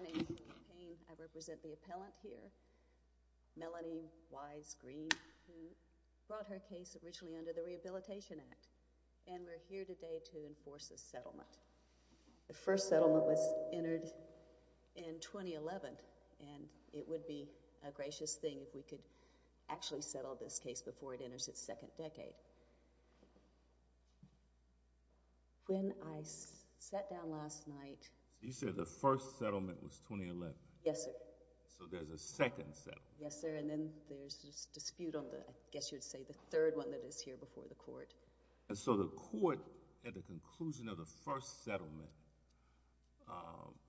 I represent the appellant here, Melanie Wise Green, who brought her case originally under the Rehabilitation Act, and we're here today to enforce this settlement. The first settlement was entered in 2011, and it would be a gracious thing if we could actually settle this case before it enters its second decade. You said the first settlement was 2011? Yes, sir. So there's a second settlement? Yes, sir, and then there's this dispute on the, I guess you would say, the third one that is here before the court. And so the court, at the conclusion of the first settlement,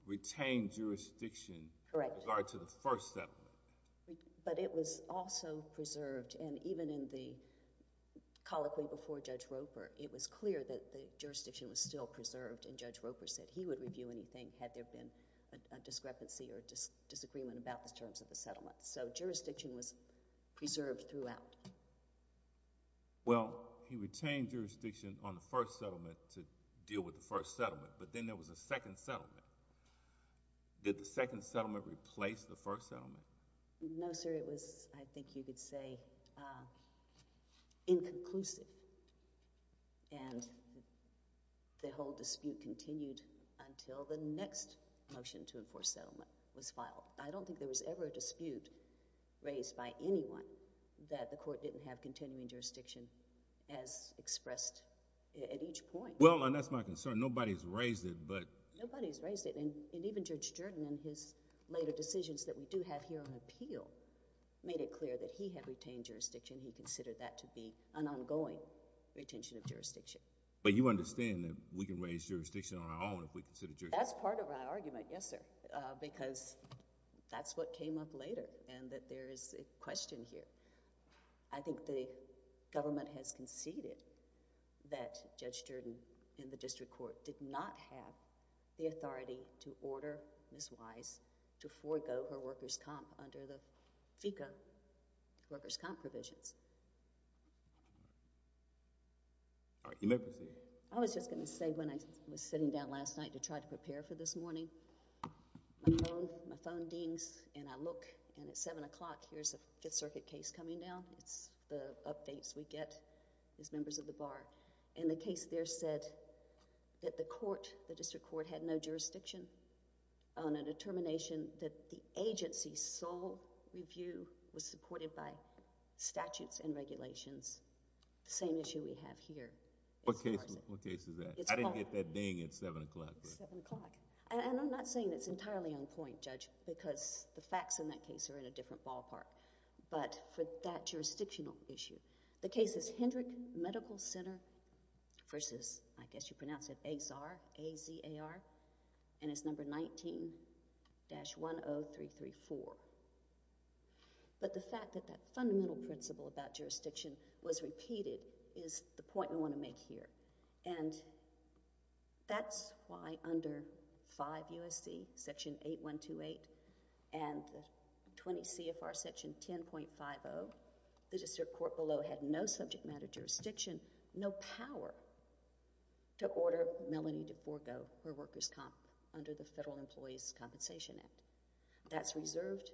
retained jurisdiction with regard to the first settlement? But it was also preserved, and even in the colloquy before Judge Roper, it was clear that the jurisdiction was still preserved, and Judge Roper said he would review anything had there been a discrepancy or disagreement about the terms of the settlement. So jurisdiction was preserved throughout? Well, he retained jurisdiction on the first settlement to deal with the first settlement, but then there was a second settlement. Did the second settlement replace the first settlement? No, sir. It was, I think you could say, inconclusive, and the whole dispute continued until the next motion to enforce settlement was filed. I don't think there was ever a dispute raised by anyone that the court didn't have continuing jurisdiction as expressed at each point. Well, and that's my concern. Nobody's raised it, but— Nobody's raised it. And even Judge Jordan, in his later decisions that we do have here on appeal, made it clear that he had retained jurisdiction. He considered that to be an ongoing retention of jurisdiction. But you understand that we can raise jurisdiction on our own if we consider jurisdiction— That's part of my argument, yes, sir, because that's what came up later, and that there is a question here. I think the government has conceded that Judge Jordan, in the district court, did not have the authority to order Ms. Wise to forego her workers' comp under the FECA workers' comp provisions. All right. You may proceed. I was just going to say, when I was sitting down last night to try to prepare for this morning, my phone dings, and I look, and at 7 o'clock, here's a Fifth Circuit case coming down. It's the updates we get as members of the bar. And the case there said that the court, the district court, had no jurisdiction on a determination that the agency's sole review was supported by statutes and regulations, the same issue we have here. What case is that? I didn't get that ding at 7 o'clock. It's 7 o'clock. And I'm not saying it's entirely on point, Judge, because the facts in that case are in a different ballpark. But for that jurisdictional issue, the case is Hendrick Medical Center versus, I guess you pronounce it, Azar, A-Z-A-R, and it's number 19-10334. But the fact that that fundamental principle about jurisdiction was repeated is the point we want to make here. And that's why under 5 U.S.C. section 8128 and 20 CFR section 10.50, the district court below had no subject matter jurisdiction, no power to order Melanie to forgo her workers' comp under the Federal Employees' Compensation Act. That's reserved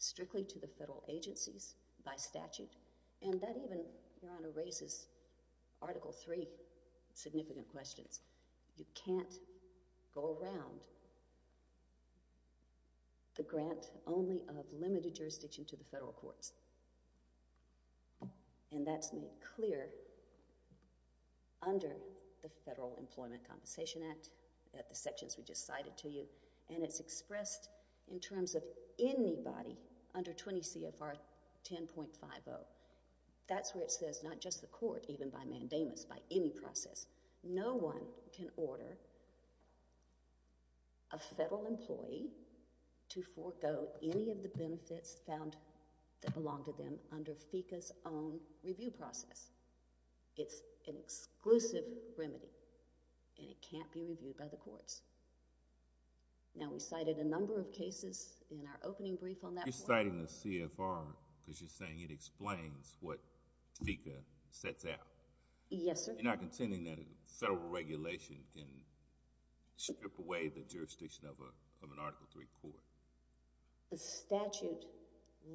strictly to the federal agencies by statute, and that even, Your Honor, raises Article III significant questions. You can't go around the grant only of limited jurisdiction to the federal courts. And that's made clear under the Federal Employment Compensation Act at the sections we just cited to you. And it's expressed in terms of anybody under 20 CFR 10.50. That's where it says not just the court, even by mandamus, by any process. No one can order a federal employee to forgo any of the benefits found that belong to them under FECA's own review process. It's an exclusive remedy, and it can't be reviewed by the courts. Now we cited a number of cases in our opening brief on that point. But you're not citing the CFR because you're saying it explains what FECA sets out. Yes, sir. You're not contending that a federal regulation can strip away the jurisdiction of an Article III court? The statute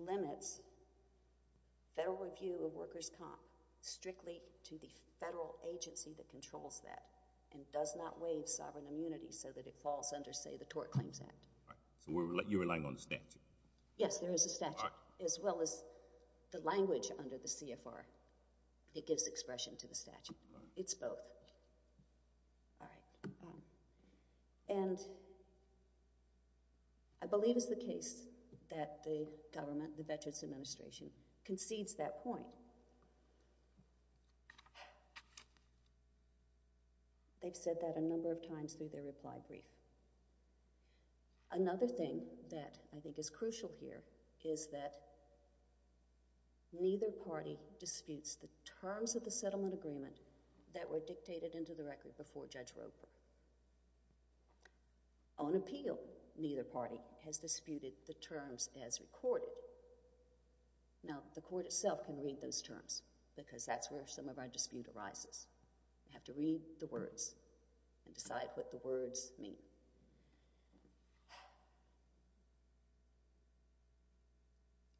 limits federal review of workers' comp strictly to the federal agency that controls that and does not waive sovereign immunity so that it falls under, say, the Tort Claims Act. Right. So you're relying on the statute? Yes, there is a statute. All right. As well as the language under the CFR, it gives expression to the statute. It's both. All right. And I believe it's the case that the government, the Veterans Administration, concedes that point. They've said that a number of times through their reply brief. Another thing that I think is crucial here is that neither party disputes the terms of the settlement agreement that were dictated into the record before Judge Roper. On appeal, neither party has disputed the terms as recorded. Now the court itself can read those terms because that's where some of our dispute arises. You have to read the words and decide what the words mean.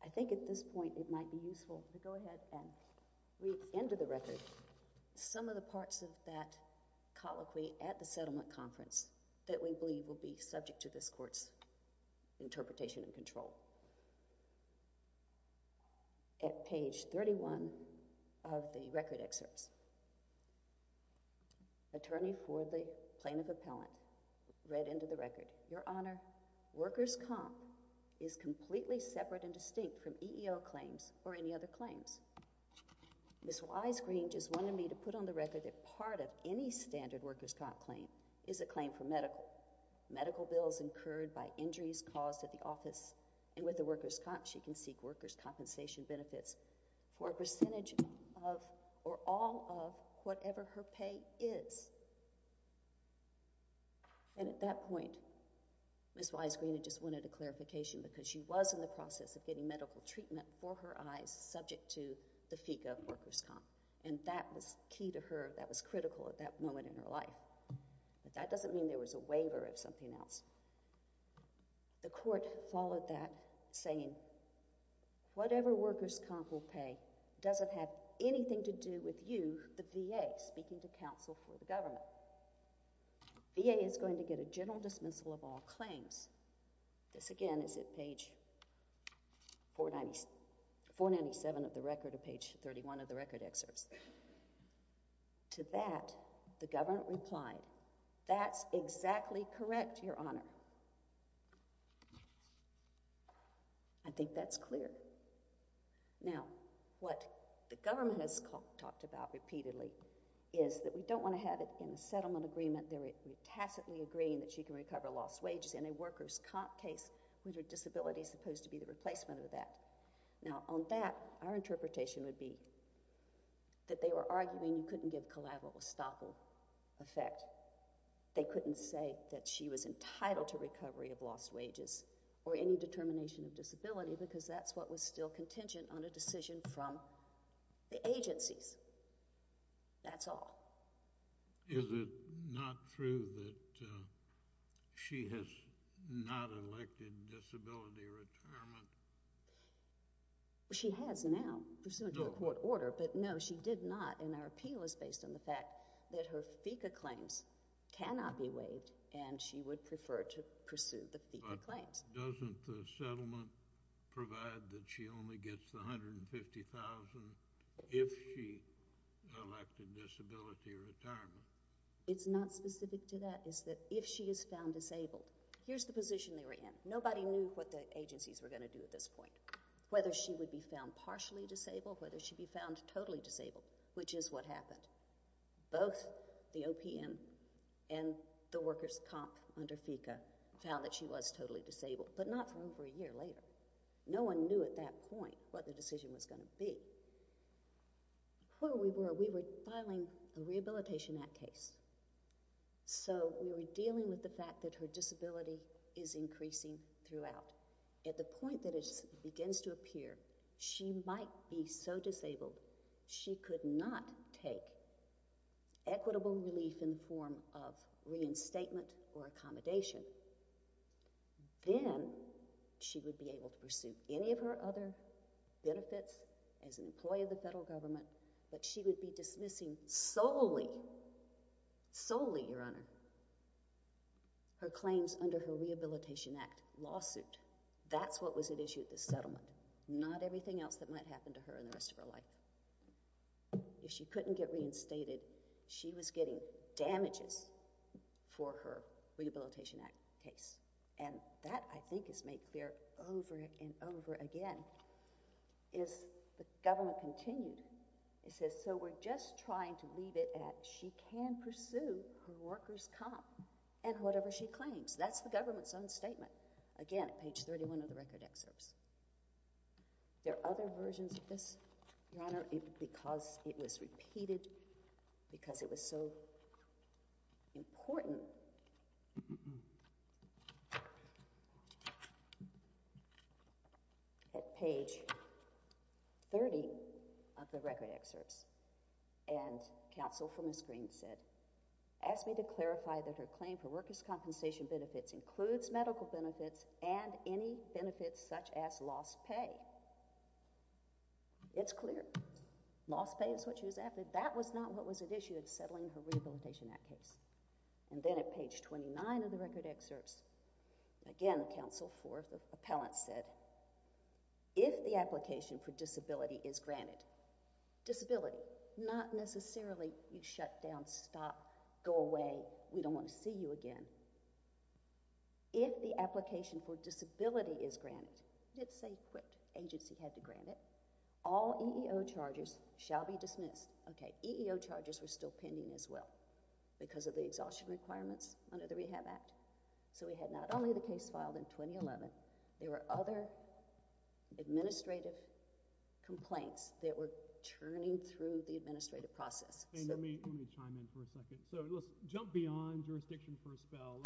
I think at this point it might be useful to go ahead and read into the record some of the parts of that colloquy at the settlement conference that we believe will be subject to appeal. At page 31 of the record excerpts, Attorney for the Plaintiff Appellant read into the record, Your Honor, workers' comp is completely separate and distinct from EEO claims or any other claims. Ms. Wise Green just wanted me to put on the record that part of any standard workers' comp claim is a claim for medical. Medical bills incurred by injuries caused at the office and with the workers' comp, she can seek workers' compensation benefits for a percentage of or all of whatever her pay is. And at that point, Ms. Wise Green had just wanted a clarification because she was in the process of getting medical treatment for her eyes subject to the FECA workers' comp. And that was key to her, that was critical at that moment in her life. But that doesn't mean there was a waiver of something else. The court followed that, saying, whatever workers' comp will pay doesn't have anything to do with you, the VA, speaking to counsel for the government. VA is going to get a general dismissal of all claims. This again is at page 497 of the record or page 31 of the record excerpts. To that, the government replied, that's exactly correct, Your Honor. I think that's clear. Now, what the government has talked about repeatedly is that we don't want to have it in a settlement agreement, they're tacitly agreeing that she can recover lost wages in a workers' comp case with her disability supposed to be the replacement of that. Now, on that, our interpretation would be that they were arguing you couldn't give collateral estoppel effect. They couldn't say that she was entitled to recovery of lost wages or any determination of disability because that's what was still contingent on a decision from the agencies. That's all. Is it not true that she has not elected disability retirement? She has now, pursuant to a court order, but no, she did not, and our appeal is based on the fact that her FECA claims cannot be waived, and she would prefer to pursue the FECA claims. But doesn't the settlement provide that she only gets the $150,000 if she elected disability retirement? It's not specific to that, it's that if she is found disabled. Here's the position they were in. Nobody knew what the agencies were going to do at this point, whether she would be found partially disabled, whether she would be found totally disabled, which is what happened. Both the OPM and the workers' comp under FECA found that she was totally disabled, but not for over a year later. No one knew at that point what the decision was going to be. Where we were, we were filing a Rehabilitation Act case, so we were dealing with the fact that her disability is increasing throughout. At the point that it begins to appear, she might be so disabled, she could not take equitable relief in the form of reinstatement or accommodation, then she would be able to pursue any of her other benefits as an employee of the federal government, but she would be dismissing solely, solely, Your Honor, her claims under her Rehabilitation Act lawsuit. That's what was at issue at this settlement. Not everything else that might happen to her in the rest of her life. If she couldn't get reinstated, she was getting damages for her Rehabilitation Act case. And that, I think, is made clear over and over again, as the government continued. It says, so we're just trying to leave it at, she can pursue her workers' comp and whatever she claims. That's the government's own statement. Again, at page 31 of the record excerpts. There are other versions of this, Your Honor, because it was repeated, because it was so important at page 30 of the record excerpts, and counsel for Ms. Green said, ask me to clarify that her claim for workers' compensation benefits includes medical benefits and any benefits such as lost pay. It's clear. Lost pay is what she was after. That was not what was at issue at settling her Rehabilitation Act case. And then at page 29 of the record excerpts, again, counsel for the appellant said, if the application for disability is granted, disability, not necessarily you shut down, stop, go away, we don't want to see you again. If the application for disability is granted, it's a quick agency had to grant it, all EEO charges shall be dismissed. Okay, EEO charges were still pending as well because of the exhaustion requirements under the Rehab Act. So we had not only the case filed in 2011, there were other administrative complaints that were churning through the administrative process. Let me chime in for a second. So let's jump beyond jurisdiction for a spell,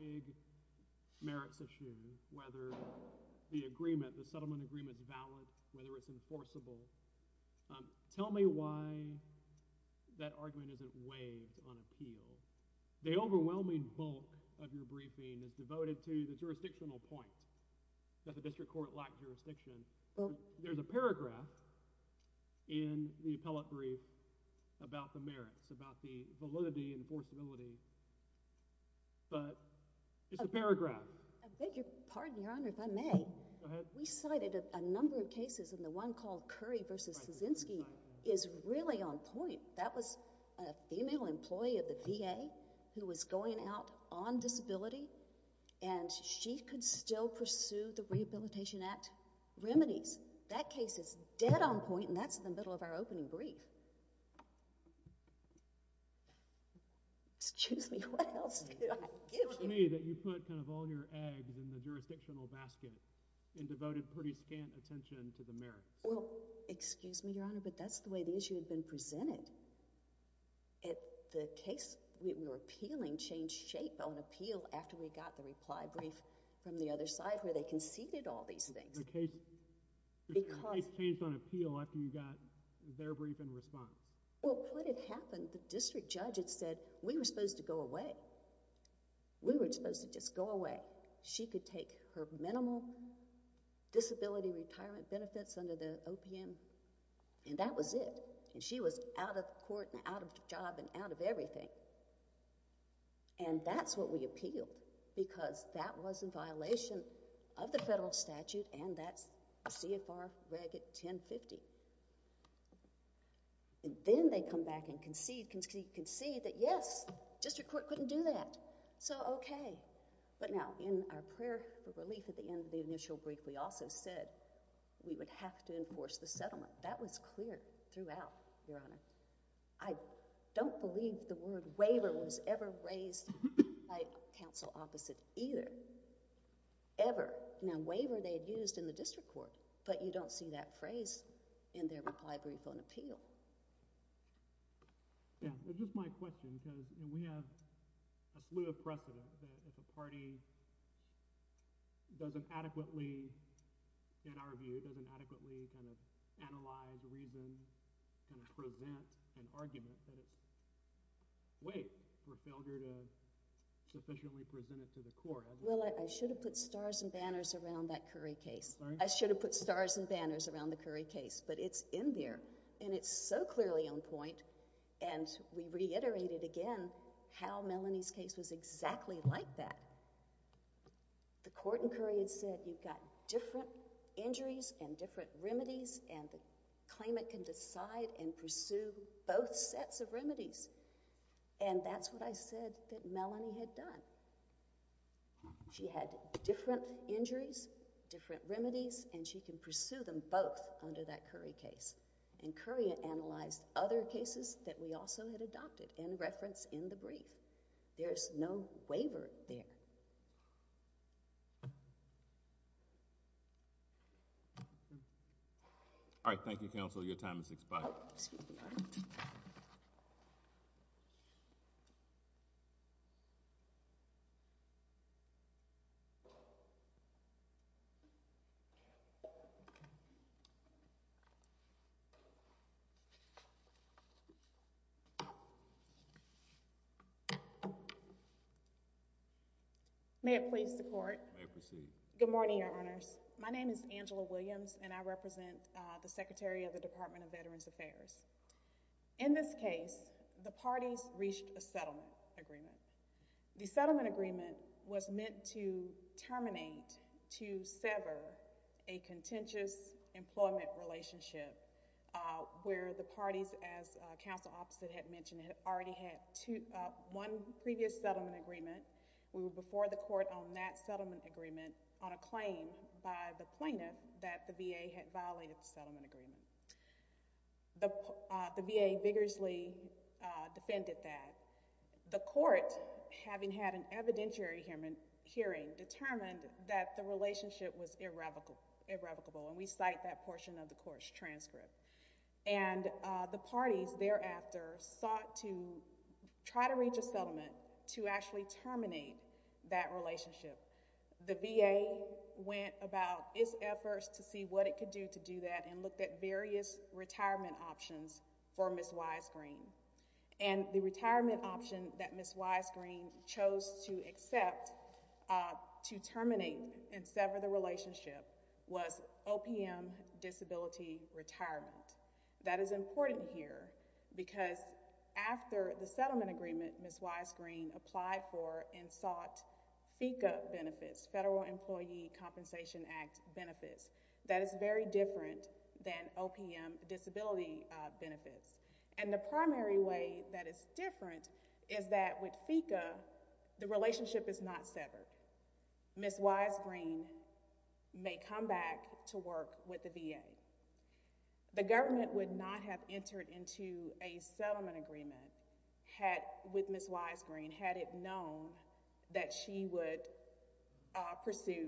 big merits issue, whether the agreement, the Tell me why that argument isn't waived on appeal. The overwhelming bulk of your briefing is devoted to the jurisdictional point, that the district court lacked jurisdiction. There's a paragraph in the appellate brief about the merits, about the validity and forcibility, but it's a paragraph. I beg your pardon, Your Honor, if I may. Go ahead. We cited a number of cases, and the one called Curry v. Kaczynski is really on point. That was a female employee of the VA who was going out on disability, and she could still pursue the Rehabilitation Act remedies. That case is dead on point, and that's in the middle of our opening brief. So it's not to me that you put kind of all your eggs in the jurisdictional basket and devoted pretty scant attention to the merits. Well, excuse me, Your Honor, but that's the way the issue had been presented. The case we were appealing changed shape on appeal after we got the reply brief from the other side where they conceded all these things. The case changed on appeal after you got their brief in response. Well, what had happened, the district judge had said, we were supposed to go away. We were supposed to just go away. She could take her minimal disability retirement benefits under the OPM, and that was it. She was out of court and out of job and out of everything, and that's what we appealed because that was in violation of the federal statute, and that's CFR Reg. 1050. And then they come back and concede that, yes, district court couldn't do that, so okay. But now in our prayer for relief at the end of the initial brief, we also said we would have to enforce the settlement. That was clear throughout, Your Honor. I don't believe the word waiver was ever raised by counsel opposite either, ever. Now, waiver they had used in the district court, but you don't see that phrase in their reply brief on appeal. Yeah, it's just my question because we have a slew of precedent that if a party doesn't adequately, in our view, doesn't adequately kind of analyze, reason, kind of present an argument that it's weight for failure to sufficiently present it to the court. Well, I should have put stars and banners around that Curry case. I should have put stars and banners around the Curry case, but it's in there, and it's so clearly on point, and we reiterated again how Melanie's case was exactly like that. The court in Curry had said you've got different injuries and different remedies, and the claimant can decide and pursue both sets of remedies, and that's what I said that Melanie had done. She had different injuries, different remedies, and she can pursue them both under that Curry case, and Curry analyzed other cases that we also had adopted in reference in the brief. There's no waiver there. All right, thank you, counsel. Your time has expired. Excuse me, Your Honor. May it please the court. May it proceed. Good morning, Your Honors. My name is Angela Williams, and I represent the Secretary of the Department of Veterans Affairs. In this case, the parties reached a settlement agreement. The settlement agreement was meant to terminate, to sever a contentious employment relationship where the parties, as counsel Opposite had mentioned, had already had one previous settlement agreement. We were before the court on that settlement agreement on a claim by the plaintiff that the VA had violated the settlement agreement. The VA vigorously defended that. The court, having had an evidentiary hearing, determined that the relationship was irrevocable, and we cite that portion of the court's transcript. The parties thereafter sought to try to reach a settlement to actually terminate that relationship. The VA went about its efforts to see what it could do to do that and looked at various retirement options for Ms. Wisegreen. And the retirement option that Ms. Wisegreen chose to accept to terminate and sever the relationship was OPM disability retirement. That is important here because after the settlement agreement Ms. Wisegreen applied for and sought FECA benefits, Federal Employee Compensation Act benefits. That is very different than OPM disability benefits. And the primary way that is different is that with FECA the relationship is not severed. Ms. Wisegreen may come back to work with the VA. The government would not have entered into a settlement agreement with Ms. Wisegreen had it known that she would pursue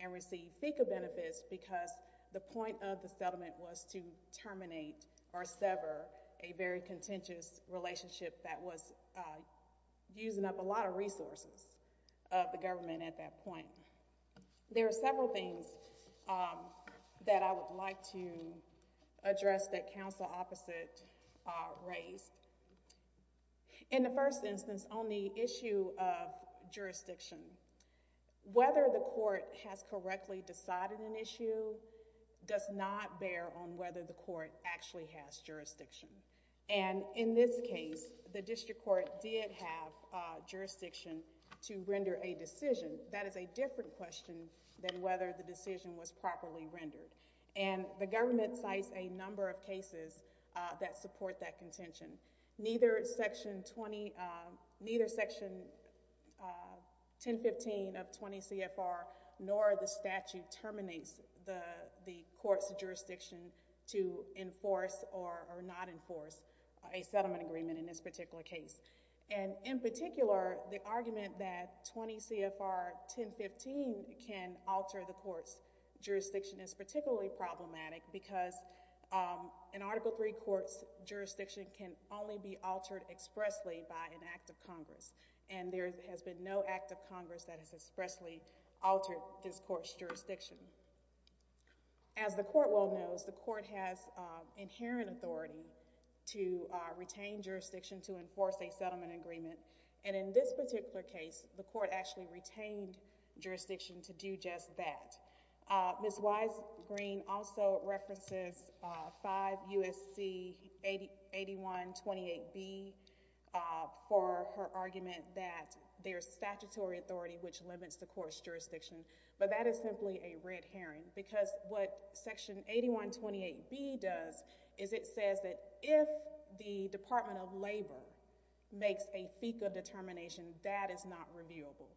and receive FECA benefits because the point of the settlement was to terminate or sever a very contentious relationship that was using up a lot of resources of the government at that point. There are several things that I would like to address that counsel opposite raised. In the first instance on the issue of jurisdiction, whether the court has correctly decided an issue does not bear on whether the court actually has jurisdiction. And in this case the district court did have jurisdiction to render a decision. That is a different question than whether the decision was properly rendered. And the government cites a number of cases that support that contention. Neither Section 1015 of 20 CFR nor the statute terminates the court's jurisdiction to enforce or not enforce a settlement agreement in this particular case. And in particular the argument that 20 CFR 1015 can alter the court's jurisdiction is particularly problematic because an Article III court's jurisdiction can only be altered expressly by an act of Congress. And there has been no act of Congress that has expressly altered this court's jurisdiction. As the court well knows, the court has inherent authority to retain jurisdiction to enforce a settlement agreement. And in this particular case the court actually retained jurisdiction to do just that. Ms. Wise-Green also references 5 U.S.C. 8128B for her argument that there's statutory authority which limits the court's jurisdiction. But that is simply a red herring because what Section 8128B does is it says that if the Department of Labor makes a FECA determination, that is not reviewable.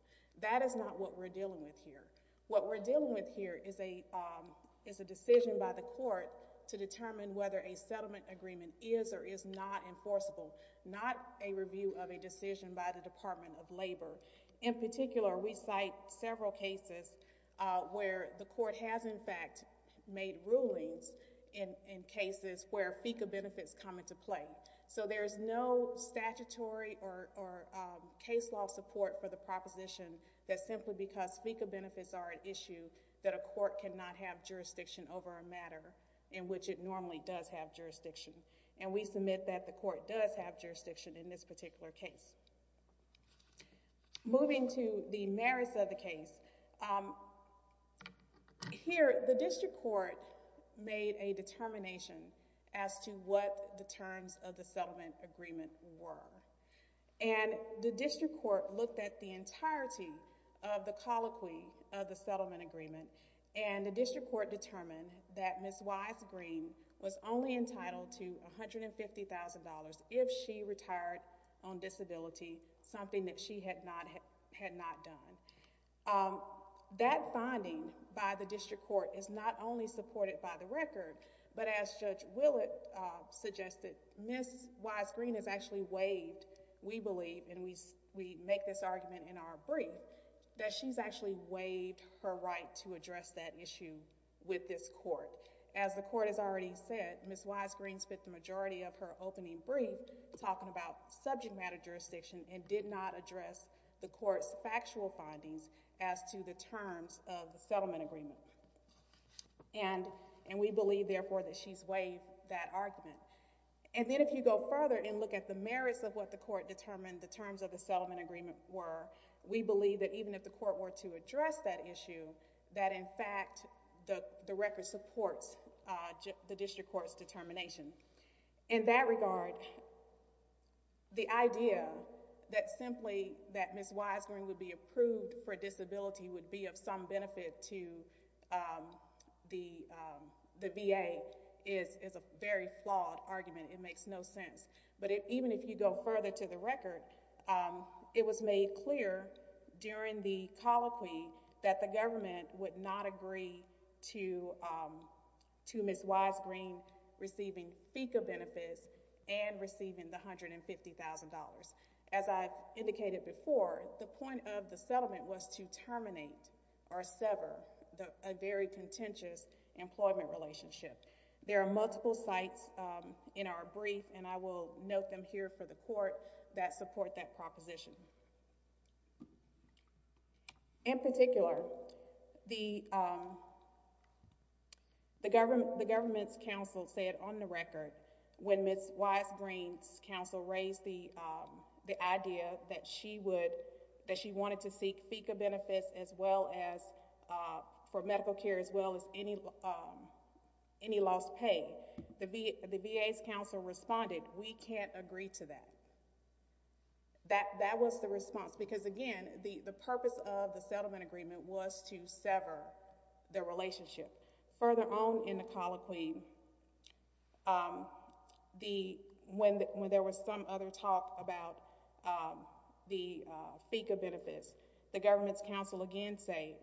That is not what we're dealing with here. What we're dealing with here is a decision by the court to determine whether a settlement agreement is or is not enforceable. Not a review of a decision by the Department of Labor. In particular we cite several cases where the court has in fact made rulings in cases where FECA benefits come into play. So there's no statutory or case law support for the proposition that simply because FECA benefits are an issue that a court cannot have jurisdiction over a matter in which it normally does have jurisdiction. And we submit that the court does have jurisdiction in this particular case. Moving to the merits of the case, here the district court made a determination as to what the terms of the settlement agreement were. And the district court looked at the entirety of the colloquy of the settlement agreement and the district court determined that Ms. Wise-Green was only entitled to $150,000 if she retired on disability, something that she had not done. That finding by the district court is not only supported by the record, but as Judge we believe, and we make this argument in our brief, that she's actually waived her right to address that issue with this court. As the court has already said, Ms. Wise-Green spent the majority of her opening brief talking about subject matter jurisdiction and did not address the court's factual findings as to the terms of the settlement agreement. And then if you go further and look at the merits of what the court determined the terms of the settlement agreement were, we believe that even if the court were to address that issue, that in fact the record supports the district court's determination. In that regard, the idea that simply that Ms. Wise-Green would be approved for disability or that she would be of some benefit to the VA is a very flawed argument. It makes no sense. But even if you go further to the record, it was made clear during the colloquy that the government would not agree to Ms. Wise-Green receiving FECA benefits and receiving the $150,000. As I've indicated before, the point of the settlement was to terminate or sever a very contentious employment relationship. There are multiple sites in our brief and I will note them here for the court that support that proposition. In particular, the government's counsel said on the record when Ms. Wise-Green's counsel raised the idea that she wanted to seek FECA benefits as well as for medical care as well as any lost pay, the VA's counsel responded, we can't agree to that. That was the response because again, the purpose of the settlement agreement was to sever the relationship. Further on in the colloquy, when there was some other talk about the FECA benefits, the government's counsel again said,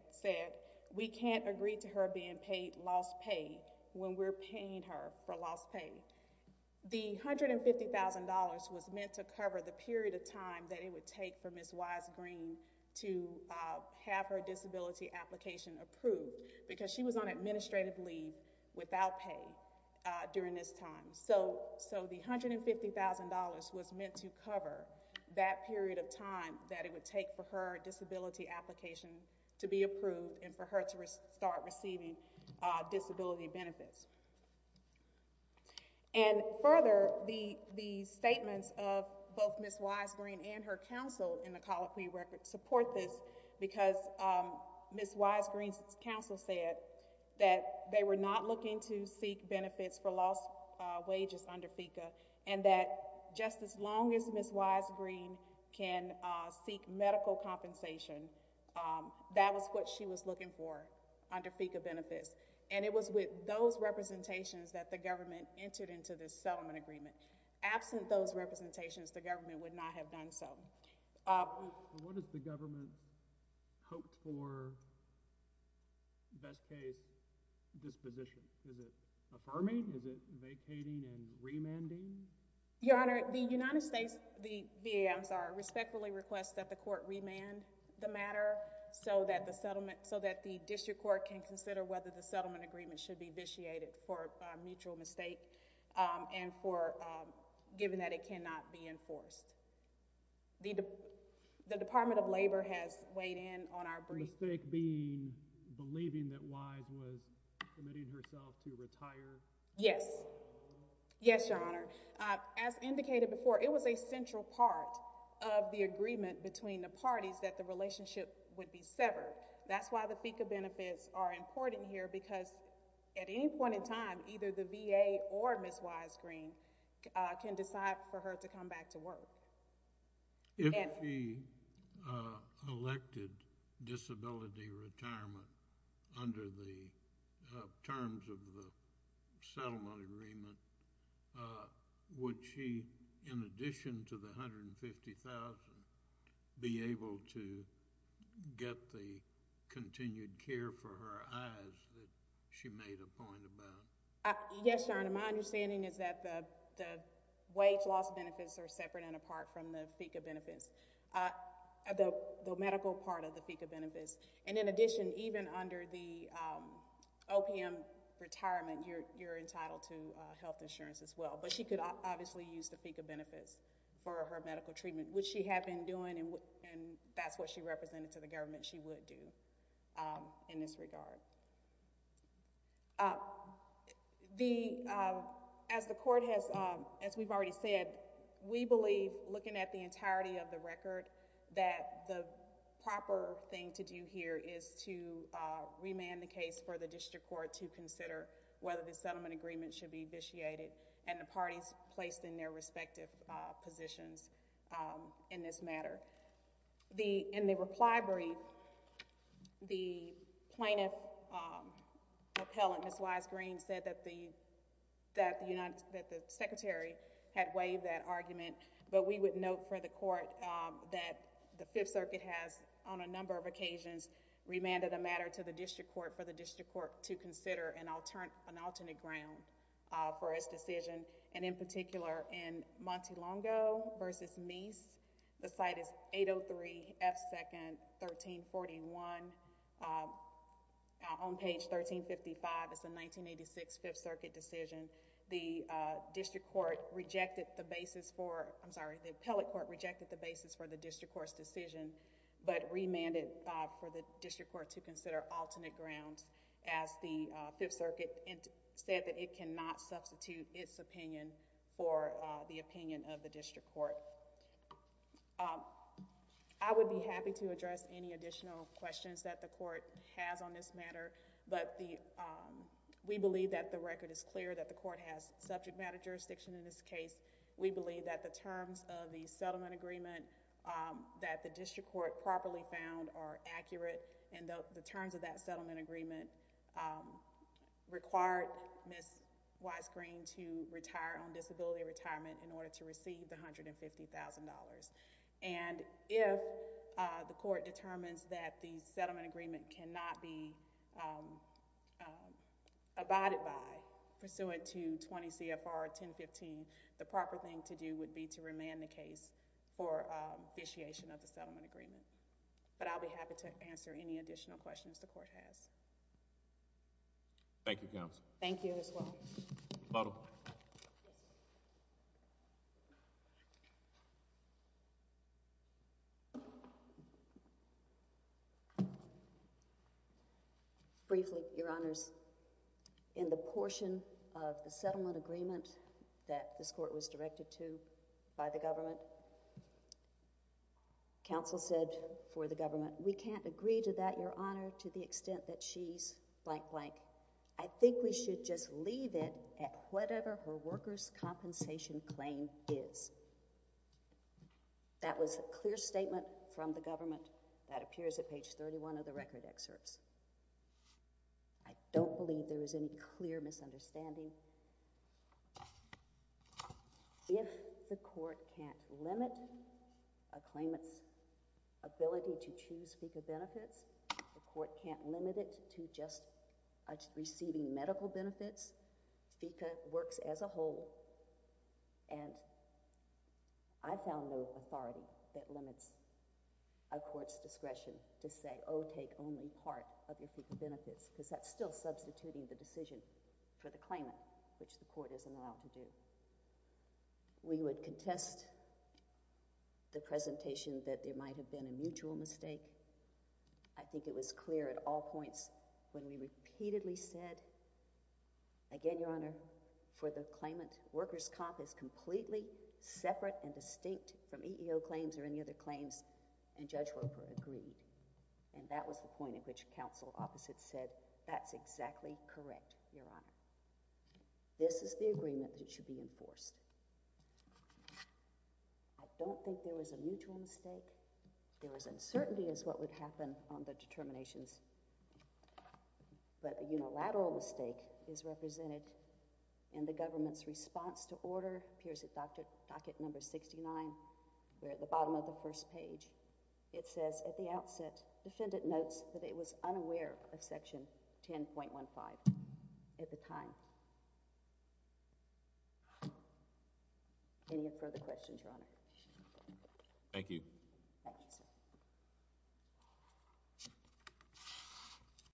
we can't agree to her being paid lost pay when we're paying her for lost pay. The $150,000 was meant to cover the period of time that it would take for Ms. Wise-Green to have her disability application approved because she was on administrative leave without pay during this time. So the $150,000 was meant to cover that period of time that it would take for her disability application to be approved and for her to start receiving disability benefits. Further, the statements of both Ms. Wise-Green and her counsel in the colloquy support this because Ms. Wise-Green's counsel said that they were not looking to seek benefits for lost wages under FECA and that just as long as Ms. Wise-Green can seek medical compensation, that was what she was looking for under FECA benefits. And it was with those representations that the government entered into this settlement agreement. Absent those representations, the government would not have done so. What does the government hope for best case disposition? Is it affirming, is it vacating and remanding? Your Honor, the United States, the VA, I'm sorry, respectfully requests that the court can consider whether the settlement agreement should be vitiated for a mutual mistake and for, given that it cannot be enforced. The Department of Labor has weighed in on our brief. Mistake being believing that Wise was committing herself to retire? Yes. Yes, Your Honor. As indicated before, it was a central part of the agreement between the parties that the relationship would be severed. That's why the FECA benefits are important here because at any point in time, either the VA or Ms. Wise-Green can decide for her to come back to work. If she elected disability retirement under the terms of the settlement agreement, would she, in addition to the $150,000, be able to get the continued care for her eyes that she made a point about? Yes, Your Honor. My understanding is that the wage loss benefits are separate and apart from the FECA benefits, the medical part of the FECA benefits. In addition, even under the OPM retirement, you're entitled to health insurance as well. She could obviously use the FECA benefits for her medical treatment, which she had been doing and that's what she represented to the government she would do in this regard. As the court has, as we've already said, we believe looking at the entirety of the record that the proper thing to do here is to remand the case for the district court to consider whether the settlement agreement should be vitiated and the parties placed in their respective positions in this matter. In the reply brief, the plaintiff appellant, Ms. Wise-Green, said that the secretary had waived that argument, but we would note for the court that the Fifth Circuit has, on a number of occasions, remanded a matter to the district court for the district court to consider an alternate ground for its decision, and in particular, in Montelongo v. Meese, the site is 803 F. 2nd, 1341. On page 1355, it's a 1986 Fifth Circuit decision. The district court rejected the basis for, I'm sorry, the appellate court rejected the basis for the district court's decision, but remanded for the district court to consider alternate grounds, as the Fifth Circuit said that it cannot substitute its opinion for the opinion of the district court. I would be happy to address any additional questions that the court has on this matter, but we believe that the record is clear that the court has subject matter jurisdiction in this case. We believe that the terms of the settlement agreement that the district court properly found are accurate, and the terms of that settlement agreement required Ms. Weiss-Green to retire on disability retirement in order to receive the $150,000, and if the court determines that the settlement agreement cannot be abided by, pursuant to 20 CFR 1015, the district court will not be able to do so, but I'll be happy to answer any additional questions the court has. Thank you, counsel. Thank you as well. Ms. Luttle. Briefly, Your Honors. In the portion of the settlement agreement that this court was directed to by the government, counsel said for the government, we can't agree to that, Your Honor, to the extent that she's blank blank. I think we should just leave it at whatever her workers' compensation claim is. That was a clear statement from the government that appears at page 31 of the record excerpts. I don't believe there was any clear misunderstanding. If the court can't limit a claimant's ability to choose FECA benefits, the court can't limit it to just receiving medical benefits, FECA works as a whole, and I found no authority that limits a court's discretion to say, oh, take only part of your FECA benefits, because that's still substituting the decision for the claimant, which the court isn't allowed to do. We would contest the presentation that there might have been a mutual mistake. I think it was clear at all points when we repeatedly said, again, Your Honor, for the claimant, workers' comp is completely separate and distinct from EEO claims or any other claims, and Judge Roper agreed. And that was the point at which counsel opposite said, that's exactly correct, Your Honor. This is the agreement that should be enforced. I don't think there was a mutual mistake. There was uncertainty as to what would happen on the determinations, but a unilateral mistake is represented in the government's response to order, appears at docket number 69, where at the bottom of the first page, it says, at the outset, defendant notes that it was unaware of section 10.15 at the time. Any further questions, Your Honor? Thank you, sir.